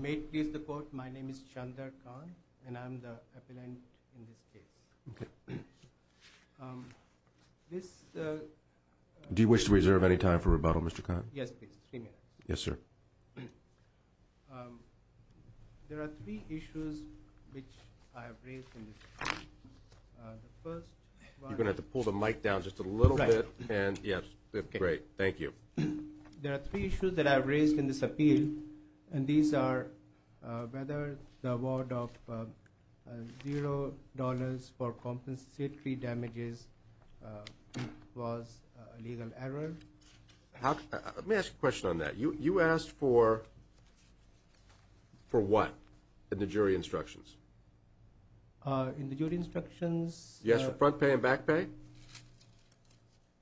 May it please the court, my name is Chandra Khan. And I'm the appellant in this case. Do you wish to reserve any time for rebuttal, Mr. Khan? Yes, please. Three minutes. Yes, sir. There are three issues which I have raised in this appeal. You're going to have to pull the mic down just a little bit. Right. Yes, great. Thank you. There are three issues that I have raised in this appeal. And these are whether the award of $0 for compensatory damages was a legal error. Let me ask you a question on that. You asked for what in the jury instructions? In the jury instructions – You asked for front pay and back pay?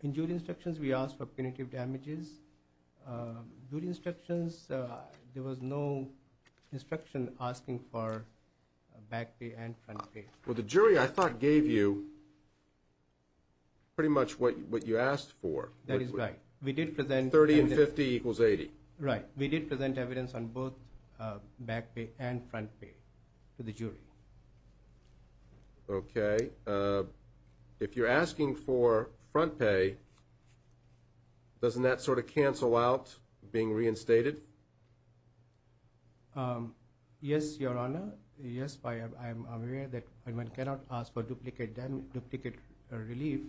In jury instructions we asked for punitive damages. In these jury instructions there was no instruction asking for back pay and front pay. Well, the jury I thought gave you pretty much what you asked for. That is right. We did present – 30 and 50 equals 80. Right. We did present evidence on both back pay and front pay to the jury. Okay. If you're asking for front pay, doesn't that sort of cancel out being reinstated? Yes, Your Honor. Yes, I am aware that one cannot ask for duplicate relief.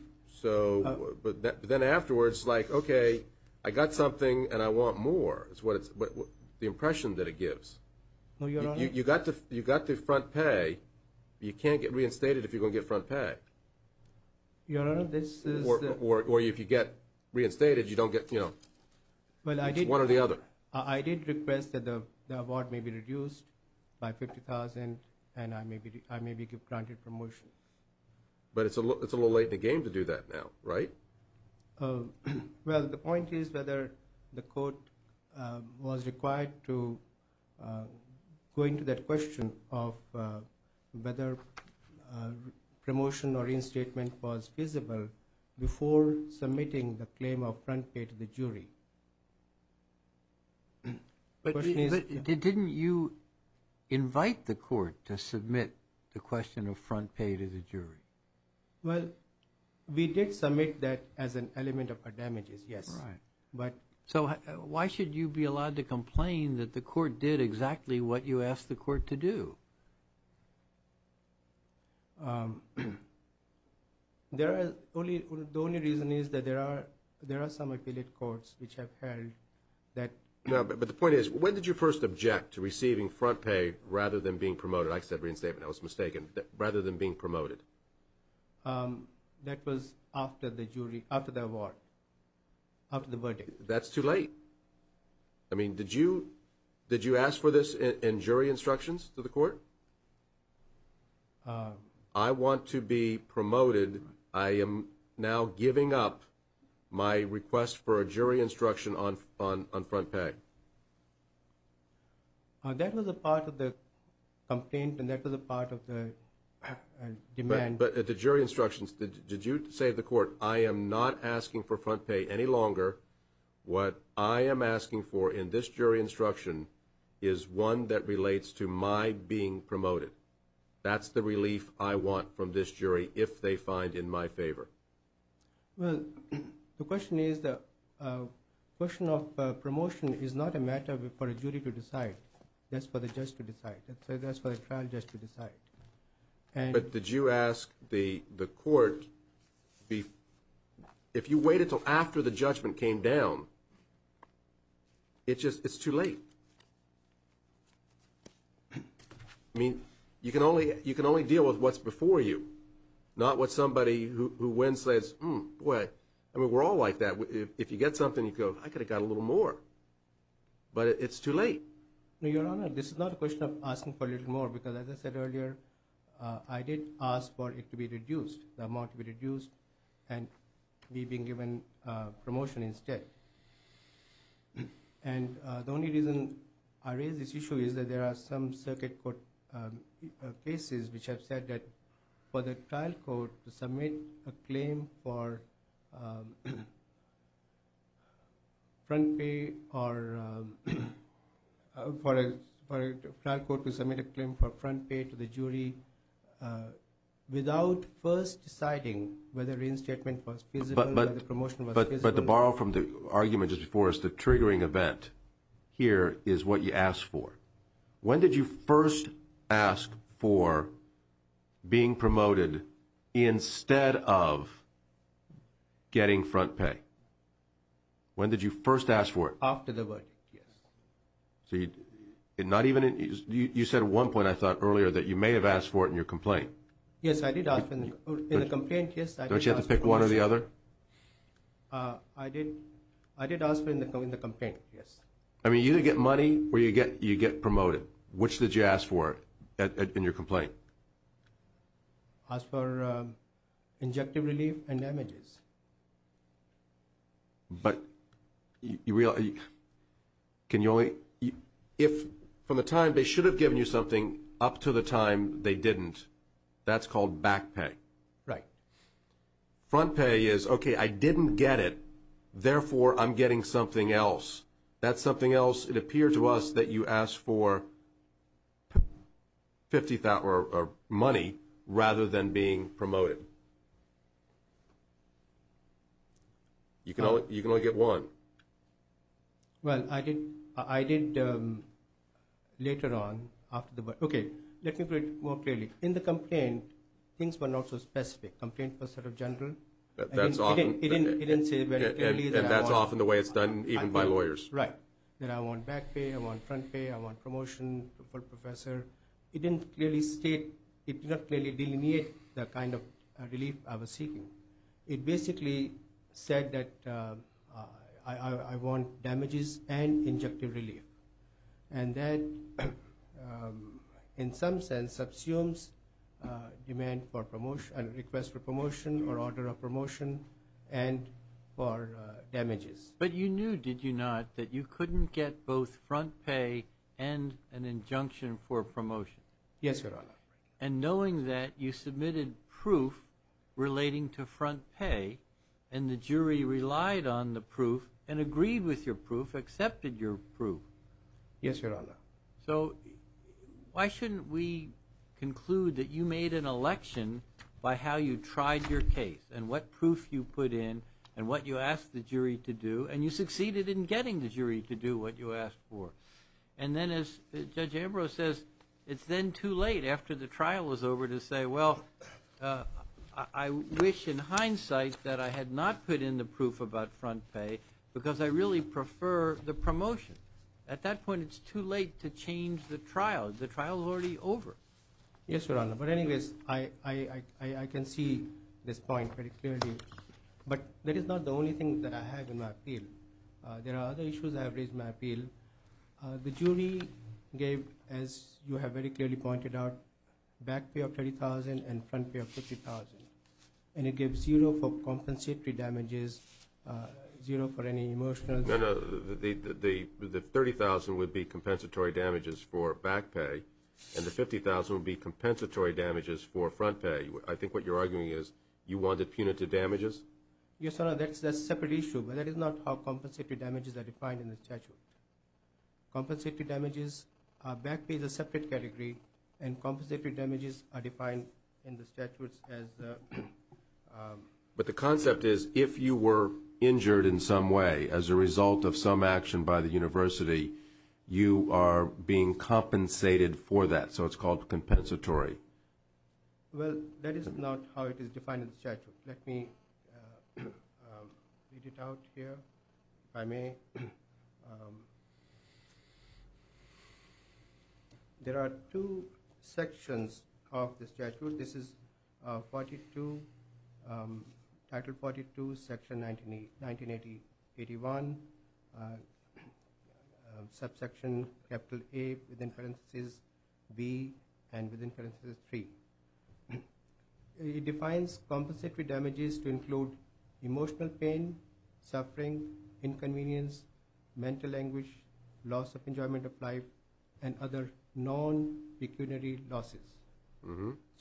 But then afterwards, like, okay, I got something and I want more is the impression that it gives. No, Your Honor. You got the front pay. You can't get reinstated if you don't get front pay. Your Honor, this is – Or if you get reinstated, you don't get, you know, one or the other. I did request that the award may be reduced by $50,000 and I may be granted promotion. But it's a little late in the game to do that now, right? Well, the point is whether the court was required to go into that question of whether promotion or reinstatement was visible before submitting the claim of front pay to the jury. The question is – But didn't you invite the court to submit the question of front pay to the jury? Well, we did submit that as an element of damages, yes. Right. But – So why should you be allowed to complain that the court did exactly what you asked the court to do? The only reason is that there are some affiliate courts which have held that – No, but the point is when did you first object to receiving front pay rather than being promoted? I said reinstatement. I was mistaken. Rather than being promoted. That was after the jury – after the award. After the verdict. That's too late. I mean, did you ask for this in jury instructions to the court? I want to be promoted. I am now giving up my request for a jury instruction on front pay. That was a part of the complaint and that was a part of the demand. But at the jury instructions, did you say to the court, I am not asking for front pay any longer. What I am asking for in this jury instruction is one that relates to my being promoted. That's the relief I want from this jury if they find in my favor. Well, the question is the question of promotion is not a matter for a jury to decide. That's for the judge to decide. That's for a trial judge to decide. But did you ask the court – if you wait until after the judgment came down, it's too late. I mean, you can only deal with what's before you, not what somebody who wins says, I mean, we're all like that. If you get something, you go, I could have got a little more. But it's too late. Your Honor, this is not a question of asking for a little more, because as I said earlier, I did ask for it to be reduced, the amount to be reduced, and me being given promotion instead. And the only reason I raise this issue is that there are some circuit court cases which have said that for the trial court to submit a claim for front pay or for a trial court to submit a claim for front pay to the jury without first deciding whether reinstatement was feasible and the promotion was feasible. But to borrow from the argument just before us, the triggering event here is what you asked for. When did you first ask for being promoted instead of getting front pay? When did you first ask for it? After the verdict, yes. So you – not even – you said at one point, I thought, earlier, that you may have asked for it in your complaint. Yes, I did ask for it in the complaint, yes. Don't you have to pick one or the other? I did ask for it in the complaint, yes. I mean, you either get money or you get promoted. Which did you ask for in your complaint? I asked for injective relief and damages. But you – can you only – if from the time they should have given you something up to the time they didn't, that's called back pay. Right. Front pay is, okay, I didn't get it, therefore I'm getting something else. That's something else. It appeared to us that you asked for money rather than being promoted. You can only get one. Well, I did later on after the – okay, let me put it more clearly. In the complaint, things were not so specific. Complaint was sort of general. It didn't say very clearly that I want – And that's often the way it's done even by lawyers. Right. That I want back pay, I want front pay, I want promotion for professor. It didn't clearly state – it did not clearly delineate the kind of relief I was seeking. It basically said that I want damages and injective relief. And that in some sense subsumes demand for – request for promotion or order of promotion and for damages. But you knew, did you not, that you couldn't get both front pay and an injunction for promotion? Yes, Your Honor. And knowing that, you submitted proof relating to front pay, and the jury relied on the proof and agreed with your proof, accepted your proof. Yes, Your Honor. So why shouldn't we conclude that you made an election by how you tried your case and what proof you put in and what you asked the jury to do, and you succeeded in getting the jury to do what you asked for? And then as Judge Ambrose says, it's then too late after the trial was over to say, well, I wish in hindsight that I had not put in the proof about front pay because I really prefer the promotion. At that point, it's too late to change the trial. The trial is already over. Yes, Your Honor. But anyways, I can see this point very clearly. But that is not the only thing that I have in my appeal. There are other issues I have raised in my appeal. The jury gave, as you have very clearly pointed out, back pay of $30,000 and front pay of $50,000. And it gave zero for compensatory damages, zero for any emotional. No, no. The $30,000 would be compensatory damages for back pay, and the $50,000 would be compensatory damages for front pay. I think what you're arguing is you wanted punitive damages? Yes, Your Honor. Well, that's a separate issue. That is not how compensatory damages are defined in the statute. Compensatory damages, back pay is a separate category, and compensatory damages are defined in the statutes as the… But the concept is if you were injured in some way as a result of some action by the university, you are being compensated for that, so it's called compensatory. Well, that is not how it is defined in the statute. Let me read it out here, if I may. There are two sections of the statute. This is Title 42, Section 1981, subsection capital A within parenthesis B and within parenthesis 3. It defines compensatory damages to include emotional pain, suffering, inconvenience, mental anguish, loss of enjoyment of life, and other non-pecuniary losses.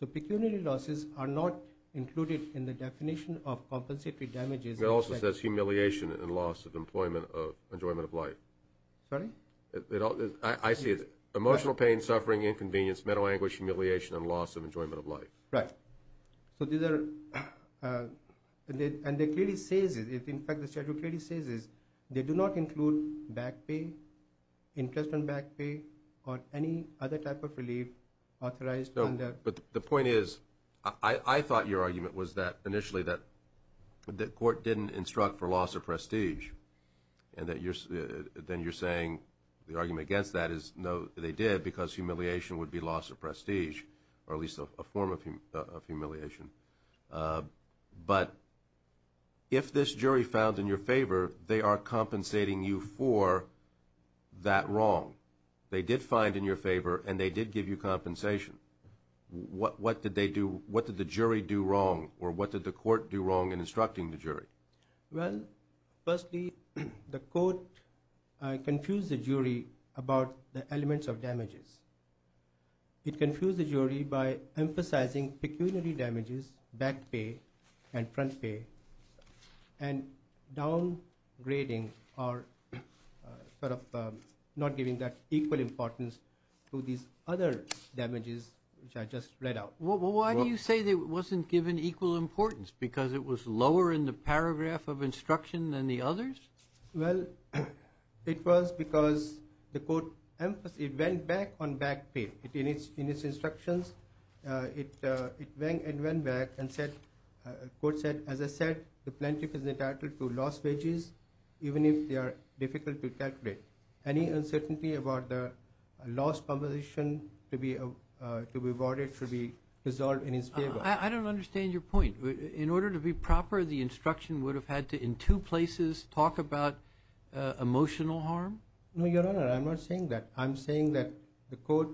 So pecuniary losses are not included in the definition of compensatory damages. It also says humiliation and loss of employment of enjoyment of life. Sorry? I see it. Emotional pain, suffering, inconvenience, mental anguish, humiliation, and loss of enjoyment of life. Right. So these are… And it clearly says, in fact the statute clearly says this, they do not include back pay, interest on back pay, or any other type of relief authorized under… But the point is, I thought your argument was that initially that the court didn't instruct for loss of prestige, and then you're saying the argument against that is no, they did, because humiliation would be loss of prestige, or at least a form of humiliation. But if this jury found in your favor, they are compensating you for that wrong. They did find in your favor, and they did give you compensation. What did the jury do wrong, or what did the court do wrong in instructing the jury? Well, firstly, the court confused the jury about the elements of damages. It confused the jury by emphasizing pecuniary damages, back pay and front pay, and downgrading or sort of not giving that equal importance to these other damages, which I just read out. Well, why do you say it wasn't given equal importance? Because it was lower in the paragraph of instruction than the others? Well, it was because the court went back on back pay. In its instructions, it went back and said, the court said, as I said, the plaintiff is entitled to loss wages, even if they are difficult to calculate. Any uncertainty about the loss compensation to be awarded should be resolved in his favor. I don't understand your point. In order to be proper, the instruction would have had to, in two places, talk about emotional harm? No, Your Honor, I'm not saying that. I'm saying that the court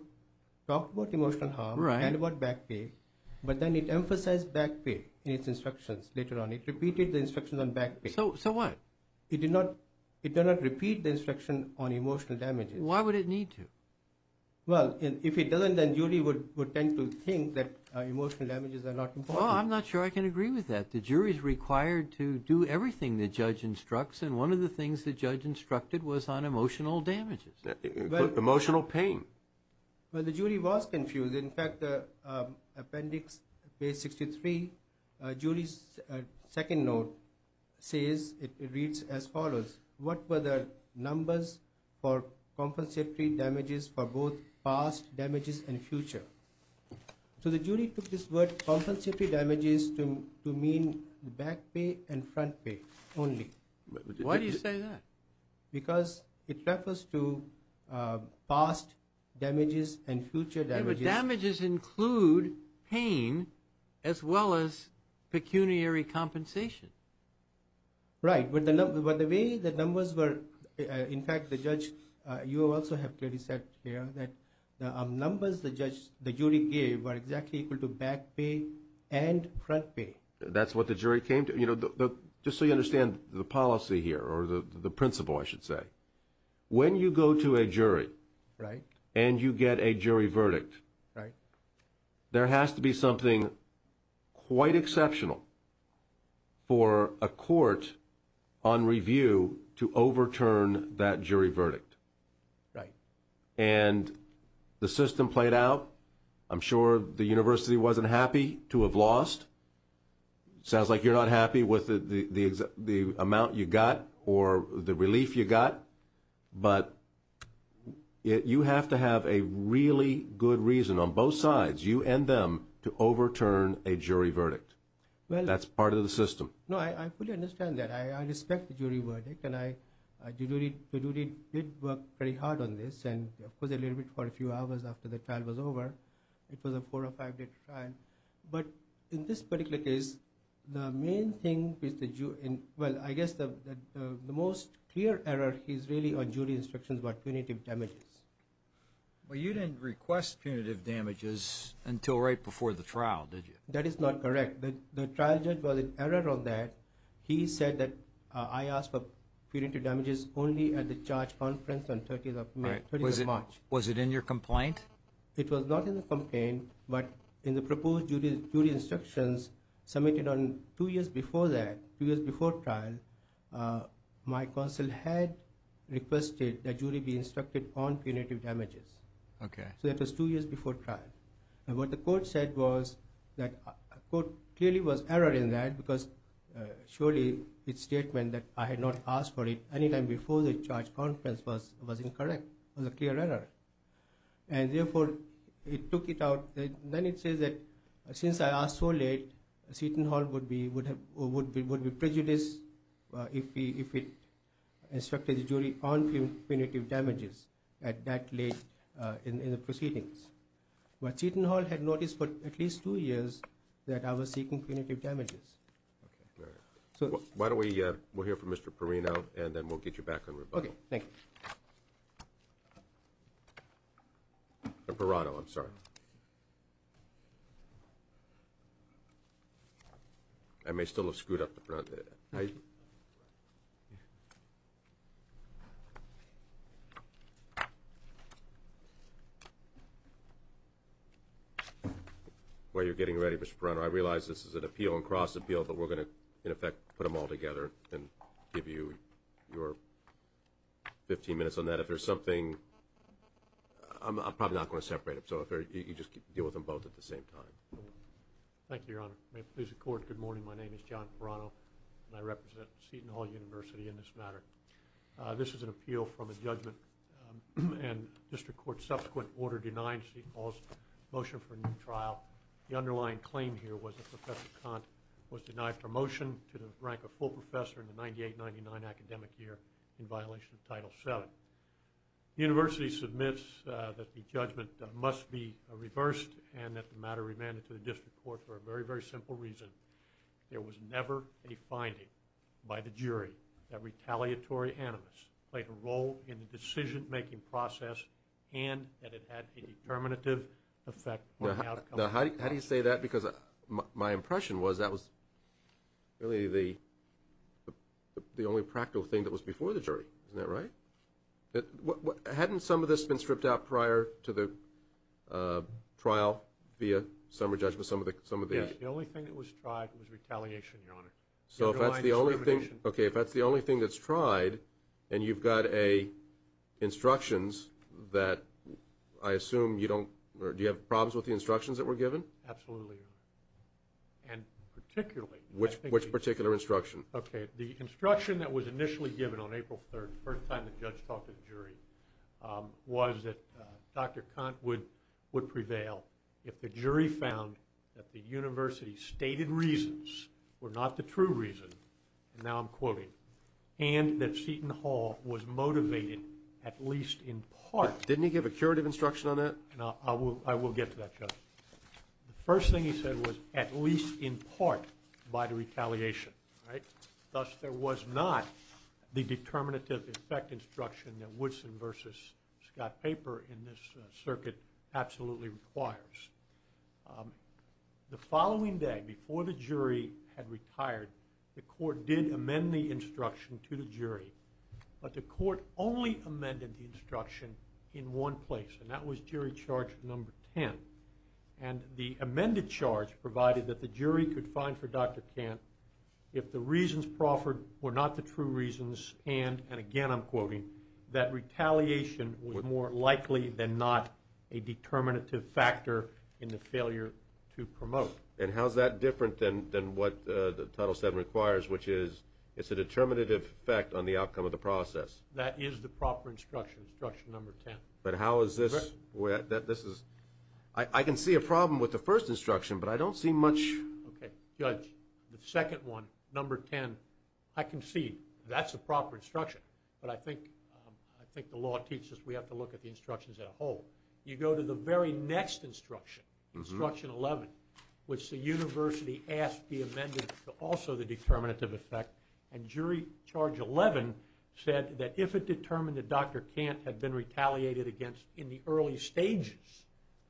talked about emotional harm and about back pay, but then it emphasized back pay in its instructions later on. It repeated the instructions on back pay. So what? It did not repeat the instruction on emotional damages. Why would it need to? Well, if it doesn't, then the jury would tend to think that emotional damages are not important. Well, I'm not sure I can agree with that. The jury is required to do everything the judge instructs, and one of the things the judge instructed was on emotional damages. Emotional pain. Well, the jury was confused. In fact, appendix page 63, jury's second note says, it reads as follows. What were the numbers for compensatory damages for both past damages and future? So the jury took this word compensatory damages to mean back pay and front pay only. Why do you say that? Because it refers to past damages and future damages. But damages include pain as well as pecuniary compensation. Right. But the way the numbers were, in fact, the judge, you also have clearly said here that numbers the jury gave were exactly equal to back pay and front pay. That's what the jury came to. Just so you understand the policy here, or the principle, I should say, when you go to a jury and you get a jury verdict, there has to be something quite exceptional for a court on review to overturn that jury verdict. And the system played out. I'm sure the university wasn't happy to have lost. Sounds like you're not happy with the amount you got or the relief you got. But you have to have a really good reason on both sides, you and them, to overturn a jury verdict. That's part of the system. No, I fully understand that. I respect the jury verdict, and the jury did work very hard on this, and, of course, a little bit for a few hours after the trial was over. It was a four or five-day trial. But in this particular case, the main thing is the jury. Well, I guess the most clear error is really on jury instructions about punitive damages. Well, you didn't request punitive damages until right before the trial, did you? That is not correct. The trial judge was in error on that. He said that I asked for punitive damages only at the charge conference on 30th of March. Was it in your complaint? It was not in the complaint, but in the proposed jury instructions submitted on two years before that, two years before trial, my counsel had requested that jury be instructed on punitive damages. Okay. So that was two years before trial. And what the court said was that a court clearly was error in that because surely its statement that I had not asked for it any time before the charge conference was incorrect. It was a clear error. And therefore, it took it out. Then it says that since I asked so late, Seton Hall would be prejudiced if it instructed the jury on punitive damages at that late in the proceedings. But Seton Hall had noticed for at least two years that I was seeking punitive damages. Okay. All right. Why don't we hear from Mr. Perino, and then we'll get you back on rebuttal. Okay. Thank you. Mr. Perino, I'm sorry. I may still have screwed up the front. While you're getting ready, Mr. Perino, I realize this is an appeal and cross-appeal, but we're going to, in effect, put them all together and give you your 15 minutes on that. If there's something, I'm probably not going to separate them. So you just deal with them both at the same time. Thank you, Your Honor. May it please the Court, good morning. My name is John Perino, and I represent Seton Hall University in this matter. This is an appeal from a judgment, and district court's subsequent order denied Seton Hall's motion for a new trial. The underlying claim here was that Professor Kant was denied promotion to the rank of full professor in the 98-99 academic year in violation of Title VII. The university submits that the judgment must be reversed, and that the matter remanded to the district court for a very, very simple reason. There was never a finding by the jury that retaliatory animus played a role in the decision-making process and that it had a determinative effect on the outcome. Now, how do you say that? Because my impression was that was really the only practical thing that was before the jury. Isn't that right? Hadn't some of this been stripped out prior to the trial via summary judgment, some of these? Yes, the only thing that was tried was retaliation, Your Honor. So if that's the only thing that's tried, and you've got instructions that I assume you don't or do you have problems with the instructions that were given? Absolutely, Your Honor, and particularly. Which particular instruction? Okay, the instruction that was initially given on April 3rd, the first time the judge talked to the jury, was that Dr. Kant would prevail if the jury found that the university's stated reasons were not the true reason, and now I'm quoting, and that Seton Hall was motivated at least in part. Didn't he give a curative instruction on that? I will get to that, Judge. The first thing he said was at least in part by the retaliation, right? Thus, there was not the determinative effect instruction that Woodson versus Scott Paper in this circuit absolutely requires. The following day, before the jury had retired, the court did amend the instruction to the jury, but the court only amended the instruction in one place, and that was jury charge number 10, and the amended charge provided that the jury could find for Dr. Kant if the reasons proffered were not the true reasons, and again I'm quoting, that retaliation was more likely than not a determinative factor in the failure to promote. And how is that different than what Title VII requires, which is it's a determinative effect on the outcome of the process? That is the proper instruction, instruction number 10. But how is this? I can see a problem with the first instruction, but I don't see much. Okay, Judge, the second one, number 10, I can see that's the proper instruction, but I think the law teaches we have to look at the instructions as a whole. You go to the very next instruction, instruction 11, which the university asked be amended to also the determinative effect, and jury charge 11 said that if it determined that Dr. Kant had been retaliated against in the early stages,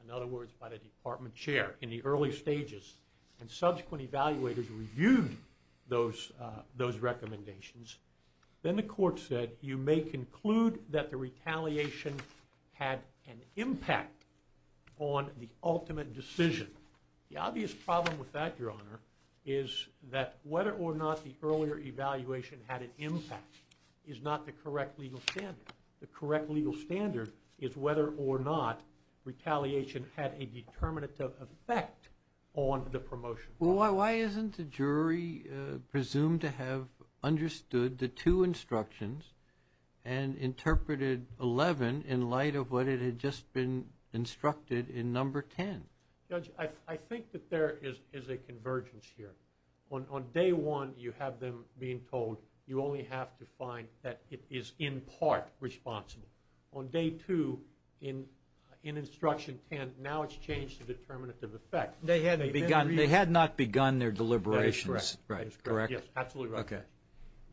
in other words by the department chair in the early stages, and subsequent evaluators reviewed those recommendations, then the court said you may conclude that the retaliation had an impact on the ultimate decision. The obvious problem with that, Your Honor, is that whether or not the earlier evaluation had an impact is not the correct legal standard. The correct legal standard is whether or not retaliation had a determinative effect on the promotion. Well, why isn't the jury presumed to have understood the two instructions and interpreted 11 in light of what it had just been instructed in number 10? Judge, I think that there is a convergence here. On day one, you have them being told you only have to find that it is in part responsible. On day two, in instruction 10, now it's changed to determinative effect. They had not begun their deliberations. That is correct. Correct? Yes, absolutely correct. Okay.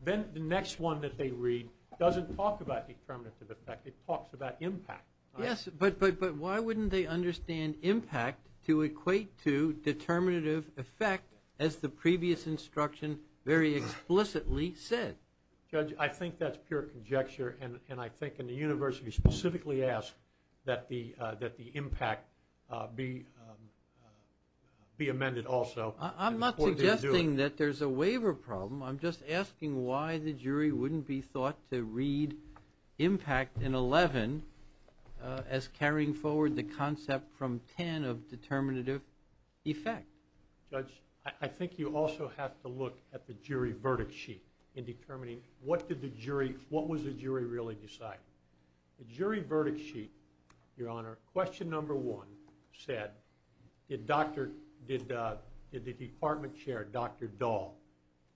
Then the next one that they read doesn't talk about determinative effect. It talks about impact. Yes, but why wouldn't they understand impact to equate to determinative effect, as the previous instruction very explicitly said? Judge, I think that's pure conjecture, and I think in the universe you specifically ask that the impact be amended also. I'm not suggesting that there's a waiver problem. I'm just asking why the jury wouldn't be thought to read impact in 11 as carrying forward the concept from 10 of determinative effect. Judge, I think you also have to look at the jury verdict sheet in determining what was the jury really deciding. The jury verdict sheet, Your Honor, question number one said, did the department chair, Dr. Dahl,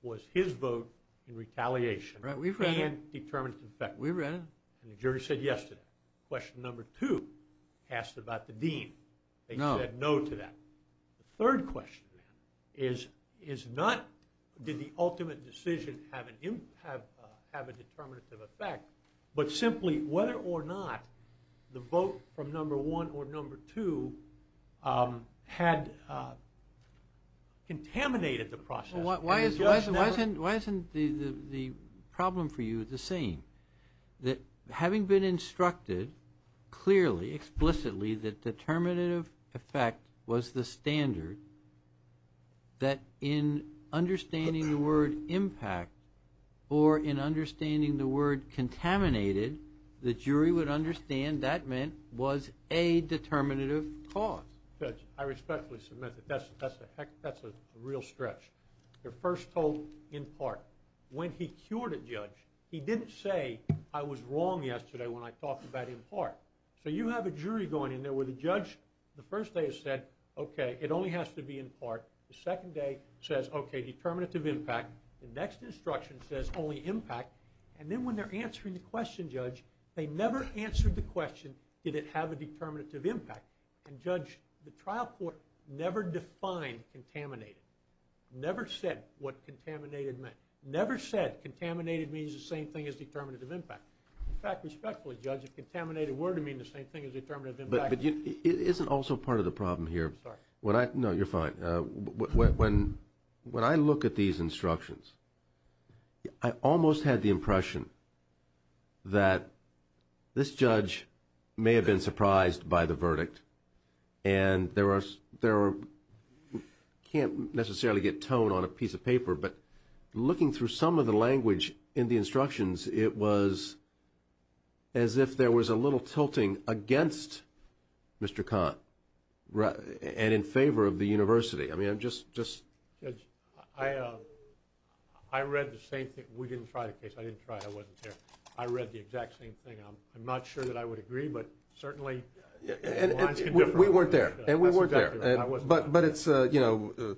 was his vote in retaliation and determinative effect? We read it. And the jury said yes to that. Question number two asked about the dean. They said no to that. The third question is not did the ultimate decision have a determinative effect, but simply whether or not the vote from number one or number two had contaminated the process. Why isn't the problem for you the same, that having been instructed clearly, explicitly, that determinative effect was the standard, that in understanding the word impact or in understanding the word contaminated, the jury would understand that meant was a determinative cause? Judge, I respectfully submit that that's a real stretch. They're first told in part. When he cured a judge, he didn't say, I was wrong yesterday when I talked about in part. So you have a jury going in there where the judge the first day has said, okay, it only has to be in part. The second day says, okay, determinative impact. The next instruction says only impact. And then when they're answering the question, Judge, they never answered the question did it have a determinative impact. And, Judge, the trial court never defined contaminated, never said what contaminated meant, never said contaminated means the same thing as determinative impact. In fact, respectfully, Judge, if contaminated were to mean the same thing as determinative impact. But isn't also part of the problem here. No, you're fine. When I look at these instructions, I almost had the impression that this judge may have been surprised by the verdict. And there can't necessarily get tone on a piece of paper. But looking through some of the language in the instructions, it was as if there was a little tilting against Mr. Kahn and in favor of the university. I mean, I'm just. Judge, I read the same thing. We didn't try the case. I didn't try it. I wasn't there. I read the exact same thing. I'm not sure that I would agree, but certainly. We weren't there. And we weren't there. But it's, you know,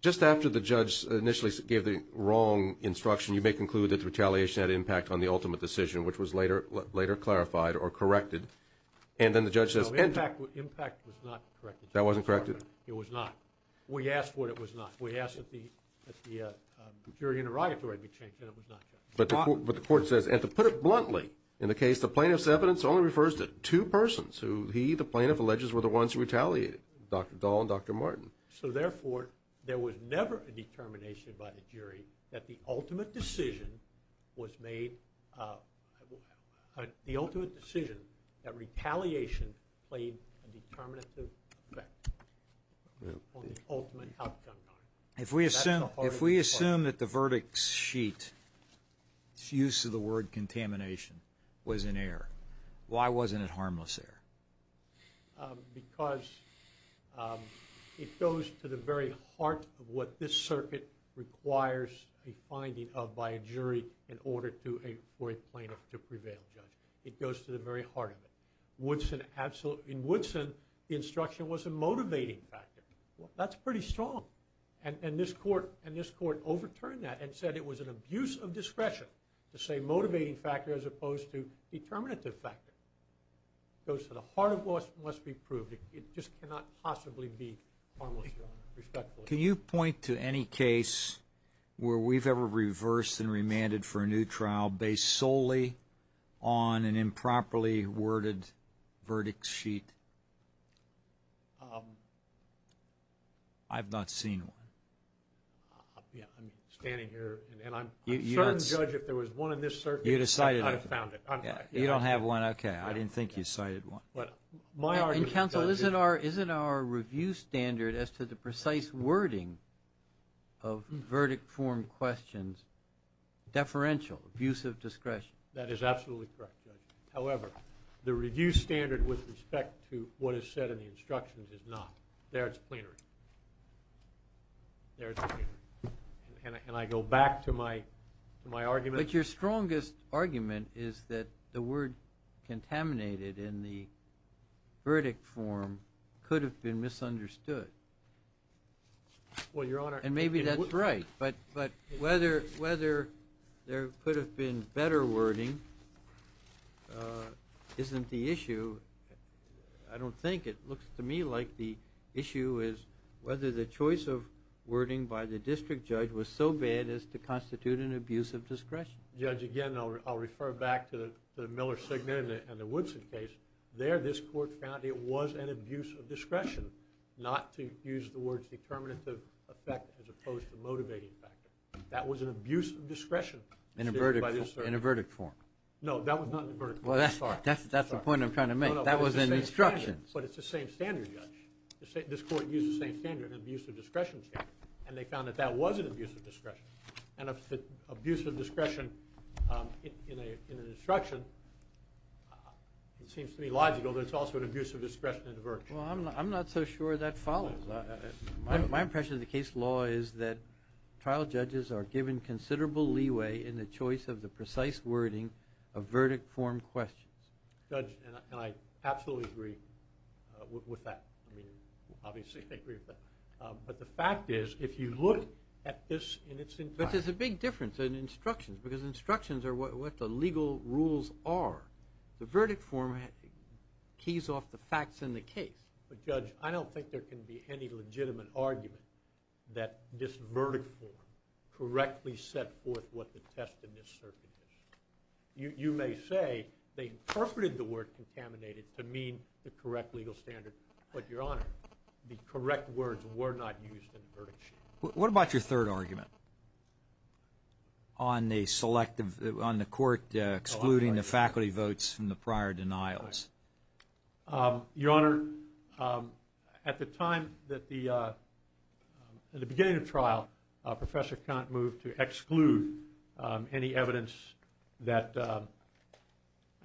just after the judge initially gave the wrong instruction, you may conclude that the retaliation had impact on the ultimate decision, which was later clarified or corrected. And then the judge says. No, impact was not corrected. That wasn't corrected? It was not. We asked what it was not. We asked that the jury interrogatory be changed, and it was not. But the court says, and to put it bluntly, in the case, the plaintiff's evidence only refers to two persons who he, the plaintiff, alleges were the ones who retaliated, Dr. Dahl and Dr. Martin. So, therefore, there was never a determination by the jury that the ultimate decision was made, the ultimate decision, that retaliation played a determinative effect on the ultimate outcome. If we assume that the verdict's sheet, its use of the word contamination, was in error, why wasn't it harmless error? Because it goes to the very heart of what this circuit requires a finding of by a jury in order for a plaintiff to prevail, Judge. It goes to the very heart of it. In Woodson, the instruction was a motivating factor. That's pretty strong. And this court overturned that and said it was an abuse of discretion to say motivating factor as opposed to determinative factor. It goes to the heart of what must be proved. It just cannot possibly be harmless error, respectfully. Can you point to any case where we've ever reversed and remanded for a new trial based solely on an improperly worded verdict sheet? I've not seen one. I'm standing here, and I'm certain, Judge, if there was one in this circuit, I would have found it. You don't have one? Okay. I didn't think you cited one. Counsel, isn't our review standard as to the precise wording of verdict form questions deferential, abuse of discretion? That is absolutely correct, Judge. However, the review standard with respect to what is said in the instructions is not. There it's plenary. There it's plenary. And I go back to my argument. But your strongest argument is that the word contaminated in the verdict form could have been misunderstood. Well, Your Honor. And maybe that's right. But whether there could have been better wording isn't the issue. I don't think. It looks to me like the issue is whether the choice of wording by the district judge was so bad as to constitute an abuse of discretion. Judge, again, I'll refer back to the Miller-Signet and the Woodson case. There this court found it was an abuse of discretion, not to use the words determinative effect as opposed to motivating factor. That was an abuse of discretion. In a verdict form. No, that was not in a verdict form. Well, that's the point I'm trying to make. That was in the instructions. But it's the same standard, Judge. This court used the same standard, an abuse of discretion standard. And they found that that was an abuse of discretion. And if it's an abuse of discretion in an instruction, it seems to be logical that it's also an abuse of discretion in a verdict. Well, I'm not so sure that follows. My impression of the case law is that trial judges are given considerable leeway in the choice of the precise wording of verdict form questions. Judge, and I absolutely agree with that. I mean, obviously I agree with that. But the fact is if you look at this in its entirety. But there's a big difference in instructions because instructions are what the legal rules are. The verdict form keys off the facts in the case. But, Judge, I don't think there can be any legitimate argument that this verdict form correctly set forth what the test in this circuit is. You may say they interpreted the word contaminated to mean the correct legal standard. But, Your Honor, the correct words were not used in the verdict sheet. What about your third argument on the court excluding the faculty votes from the prior denials? Your Honor, at the beginning of trial, Professor Kant moved to exclude any evidence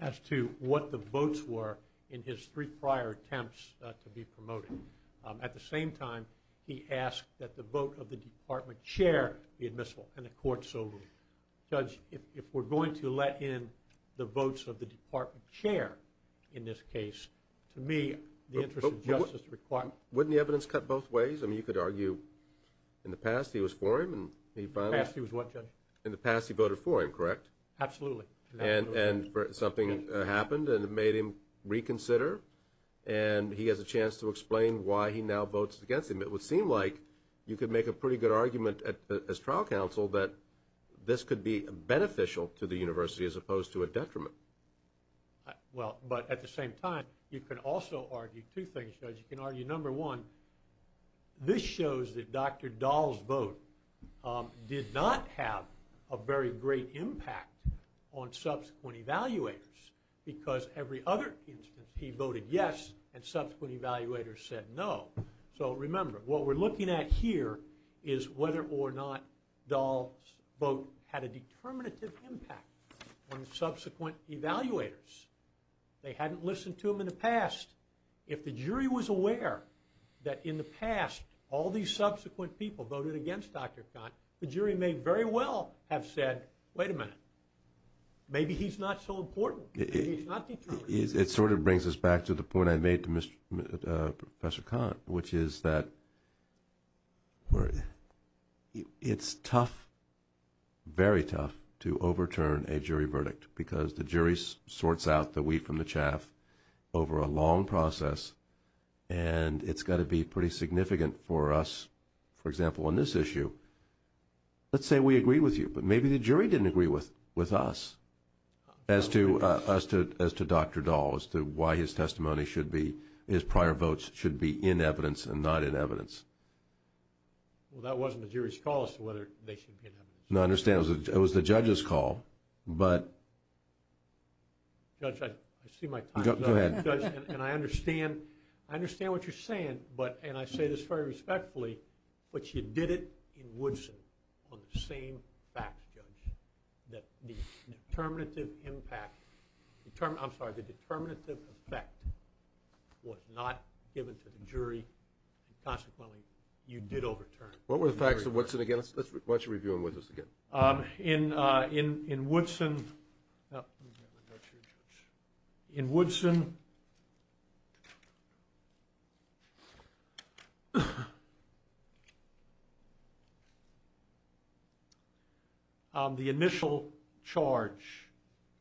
as to what the votes were in his three prior attempts to be promoted. At the same time, he asked that the vote of the department chair be admissible, and the court so ruled. Judge, if we're going to let in the votes of the department chair in this case, to me the interest of justice is required. Wouldn't the evidence cut both ways? I mean, you could argue in the past he was for him and he finally— In the past he was what, Judge? In the past he voted for him, correct? Absolutely. And something happened and it made him reconsider, and he has a chance to explain why he now votes against him. It would seem like you could make a pretty good argument as trial counsel that this could be beneficial to the university as opposed to a detriment. Well, but at the same time, you could also argue two things, Judge. You can argue, number one, this shows that Dr. Dahl's vote did not have a very great impact on subsequent evaluators because every other instance he voted yes and subsequent evaluators said no. So remember, what we're looking at here is whether or not Dahl's vote had a determinative impact on subsequent evaluators. They hadn't listened to him in the past. If the jury was aware that in the past all these subsequent people voted against Dr. Kahn, the jury may very well have said, wait a minute, maybe he's not so important. Maybe he's not determined. It sort of brings us back to the point I made to Professor Kahn, which is that it's tough, very tough, to overturn a jury verdict because the jury sorts out the wheat from the chaff over a long process and it's got to be pretty significant for us. For example, on this issue, let's say we agree with you, but maybe the jury didn't agree with us as to Dr. Dahl, as to why his testimony should be, his prior votes should be in evidence and not in evidence. Well, that wasn't the jury's call as to whether they should be in evidence. No, I understand. It was the judge's call. Judge, I see my time is up. Go ahead. And I understand what you're saying, and I say this very respectfully, but you did it in Woodson on the same facts, Judge, that the determinative impact, I'm sorry, the determinative effect was not given to the jury and consequently you did overturn. What were the facts of Woodson again? Why don't you review them with us again. In Woodson, the initial charge.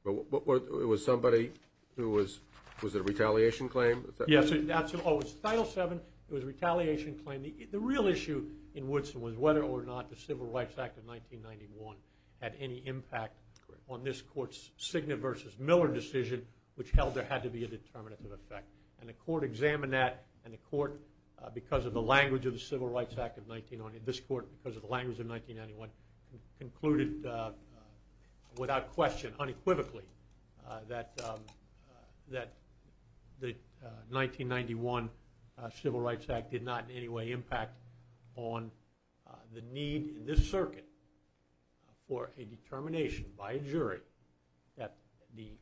It was somebody who was, was it a retaliation claim? Yes, it was Title VII. It was a retaliation claim. And the real issue in Woodson was whether or not the Civil Rights Act of 1991 had any impact on this court's Signet v. Miller decision, which held there had to be a determinative effect. And the court examined that, and the court, because of the language of the Civil Rights Act of 1990, this court, because of the language of 1991, concluded without question, unequivocally, that the 1991 Civil Rights Act did not in any way impact on the need in this circuit for a determination by a jury that the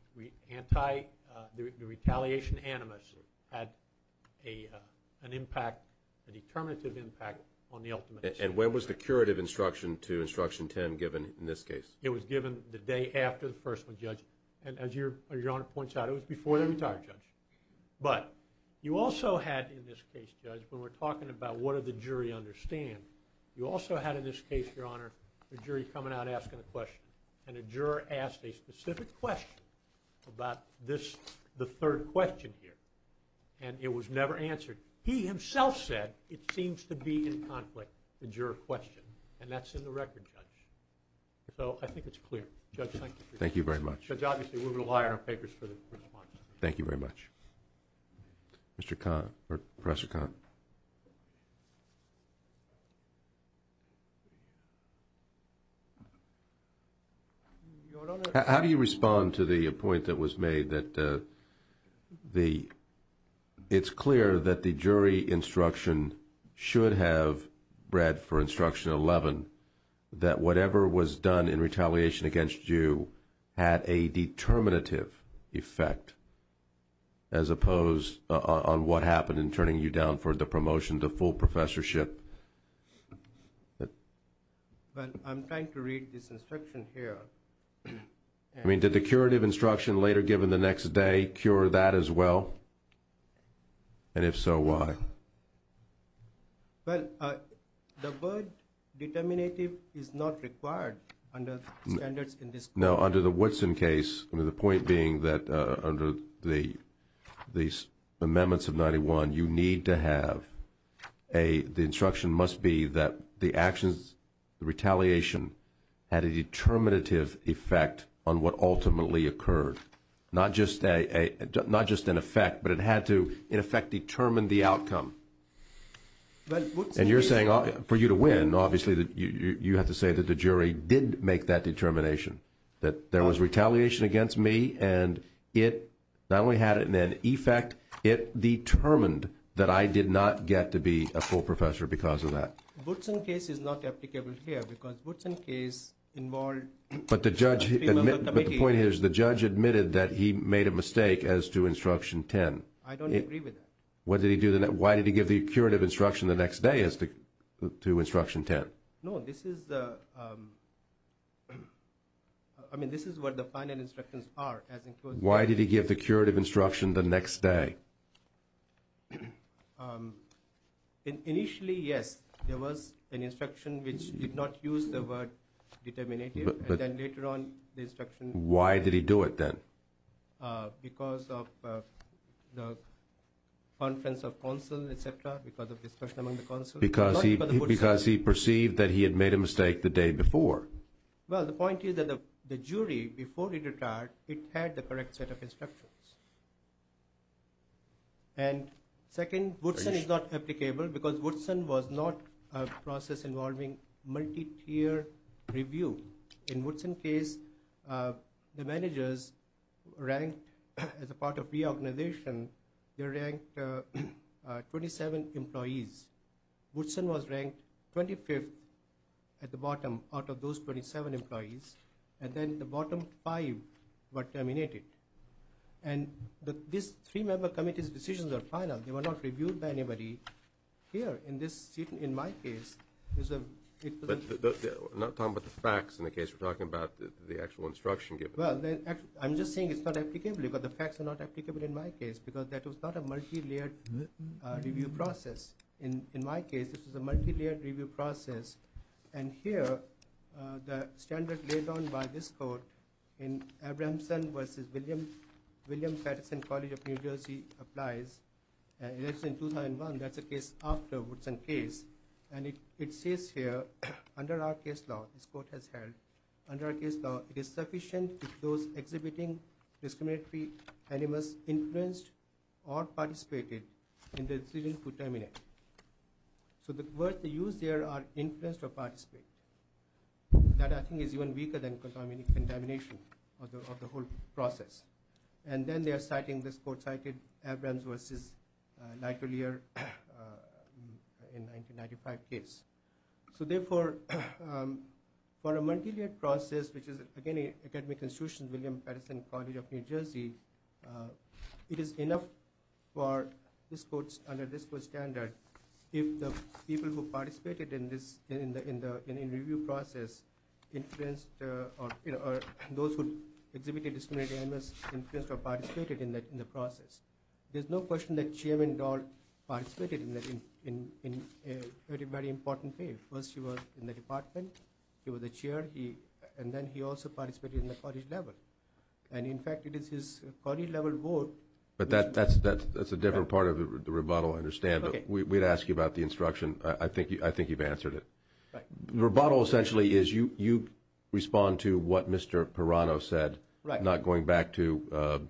retaliation animus had an impact, a determinative impact on the ultimate... And when was the curative instruction to Instruction 10 given in this case? It was given the day after the first one, Judge. And as Your Honor points out, it was before the entire judge. But you also had in this case, Judge, when we're talking about what did the jury understand, you also had in this case, Your Honor, a jury coming out asking a question, and a juror asked a specific question about this, the third question here. And it was never answered. He himself said it seems to be in conflict, the juror question, and that's in the record, Judge. So I think it's clear. Judge, thank you. Thank you very much. Judge, obviously, we're going to rely on our papers for the response. Thank you very much. Mr. Kahn, or Professor Kahn. How do you respond to the point that was made that it's clear that the jury instruction should have read for Instruction 11 that whatever was done in retaliation against you had a determinative effect, as opposed on what happened in turning you down for the promotion to full professorship? Well, I'm trying to read this instruction here. I mean, did the curative instruction later given the next day cure that as well? And if so, why? Well, the word determinative is not required under the standards in this case. No, under the Woodson case, the point being that under the amendments of 91, you need to have a, the instruction must be that the actions, the retaliation, had a determinative effect on what ultimately occurred. Not just an effect, but it had to, in effect, determine the outcome. And you're saying, for you to win, obviously you have to say that the jury did make that determination, that there was retaliation against me and it not only had it in an effect, it determined that I did not get to be a full professor because of that. Woodson case is not applicable here because Woodson case involved... But the point is, the judge admitted that he made a mistake as to Instruction 10. I don't agree with that. Why did he give the curative instruction the next day as to Instruction 10? No, this is the... I mean, this is what the final instructions are. Why did he give the curative instruction the next day? Initially, yes, there was an instruction which did not use the word determinative, and then later on the instruction... Why did he do it then? Because of the conference of counsel, et cetera, because of discussion among the counsel. Because he perceived that he had made a mistake the day before. Well, the point is that the jury, before he retired, it had the correct set of instructions. And second, Woodson is not applicable because Woodson was not a process involving multi-tier review. In Woodson case, the managers ranked as a part of reorganization, they ranked 27 employees. Woodson was ranked 25th at the bottom out of those 27 employees, and then the bottom five were terminated. And these three member committees' decisions are final. They were not reviewed by anybody here. In my case, it was... But I'm not talking about the facts in the case. We're talking about the actual instruction given. Well, I'm just saying it's not applicable because the facts are not applicable in my case because that was not a multi-layered review process. In my case, this was a multi-layered review process. And here, the standard laid down by this court in Abramson versus William Patterson College of New Jersey applies. It's in 2001. That's a case after Woodson case. And it says here, under our case law, this court has held, under our case law, it is sufficient if those exhibiting discriminatory animals influenced or participated in the decision to terminate. So the words they use here are influenced or participate. That, I think, is even weaker than contamination of the whole process. And then they are citing, this court cited Abramson versus Lighterlier in 1995 case. So therefore, for a multi-layered process, which is, again, an academic institution, William Patterson College of New Jersey, it is enough for this court, under this court's standard, if the people who participated in the review process influenced or those who exhibited discriminatory animals influenced or participated in the process. There's no question that Chairman Dahl participated in a very, very important way. First, he was in the department. He was a chair. And then he also participated in the college level. And, in fact, it is his college level board. But that's a different part of the rebuttal, I understand. But we'd ask you about the instruction. I think you've answered it. The rebuttal essentially is you respond to what Mr. Perrano said, not going back to,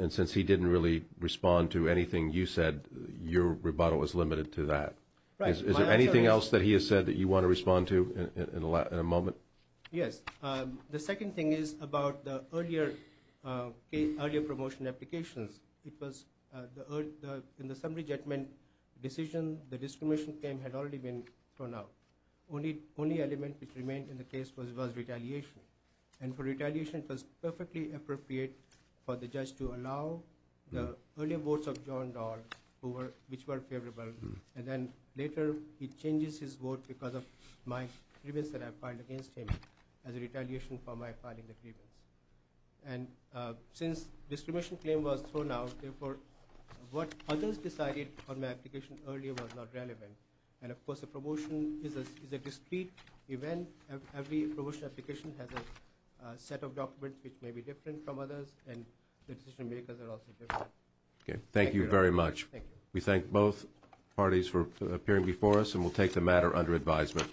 and since he didn't really respond to anything you said, your rebuttal is limited to that. Is there anything else that he has said that you want to respond to in a moment? Yes. The second thing is about the earlier promotion applications. Because in the summary judgment decision, the discrimination claim had already been thrown out. Only element which remained in the case was retaliation. And for retaliation, it was perfectly appropriate for the judge to allow the earlier votes of John Dahl, which were favorable, and then later he changes his vote because of my grievance that I filed against him as a retaliation for my filing the grievance. And since discrimination claim was thrown out, therefore what others decided on my application earlier was not relevant. And, of course, a promotion is a discrete event. Every promotion application has a set of documents which may be different from others, and decision makers are also different. Okay. Thank you very much. Thank you. We thank both parties for appearing before us, and we'll take the matter under advisement.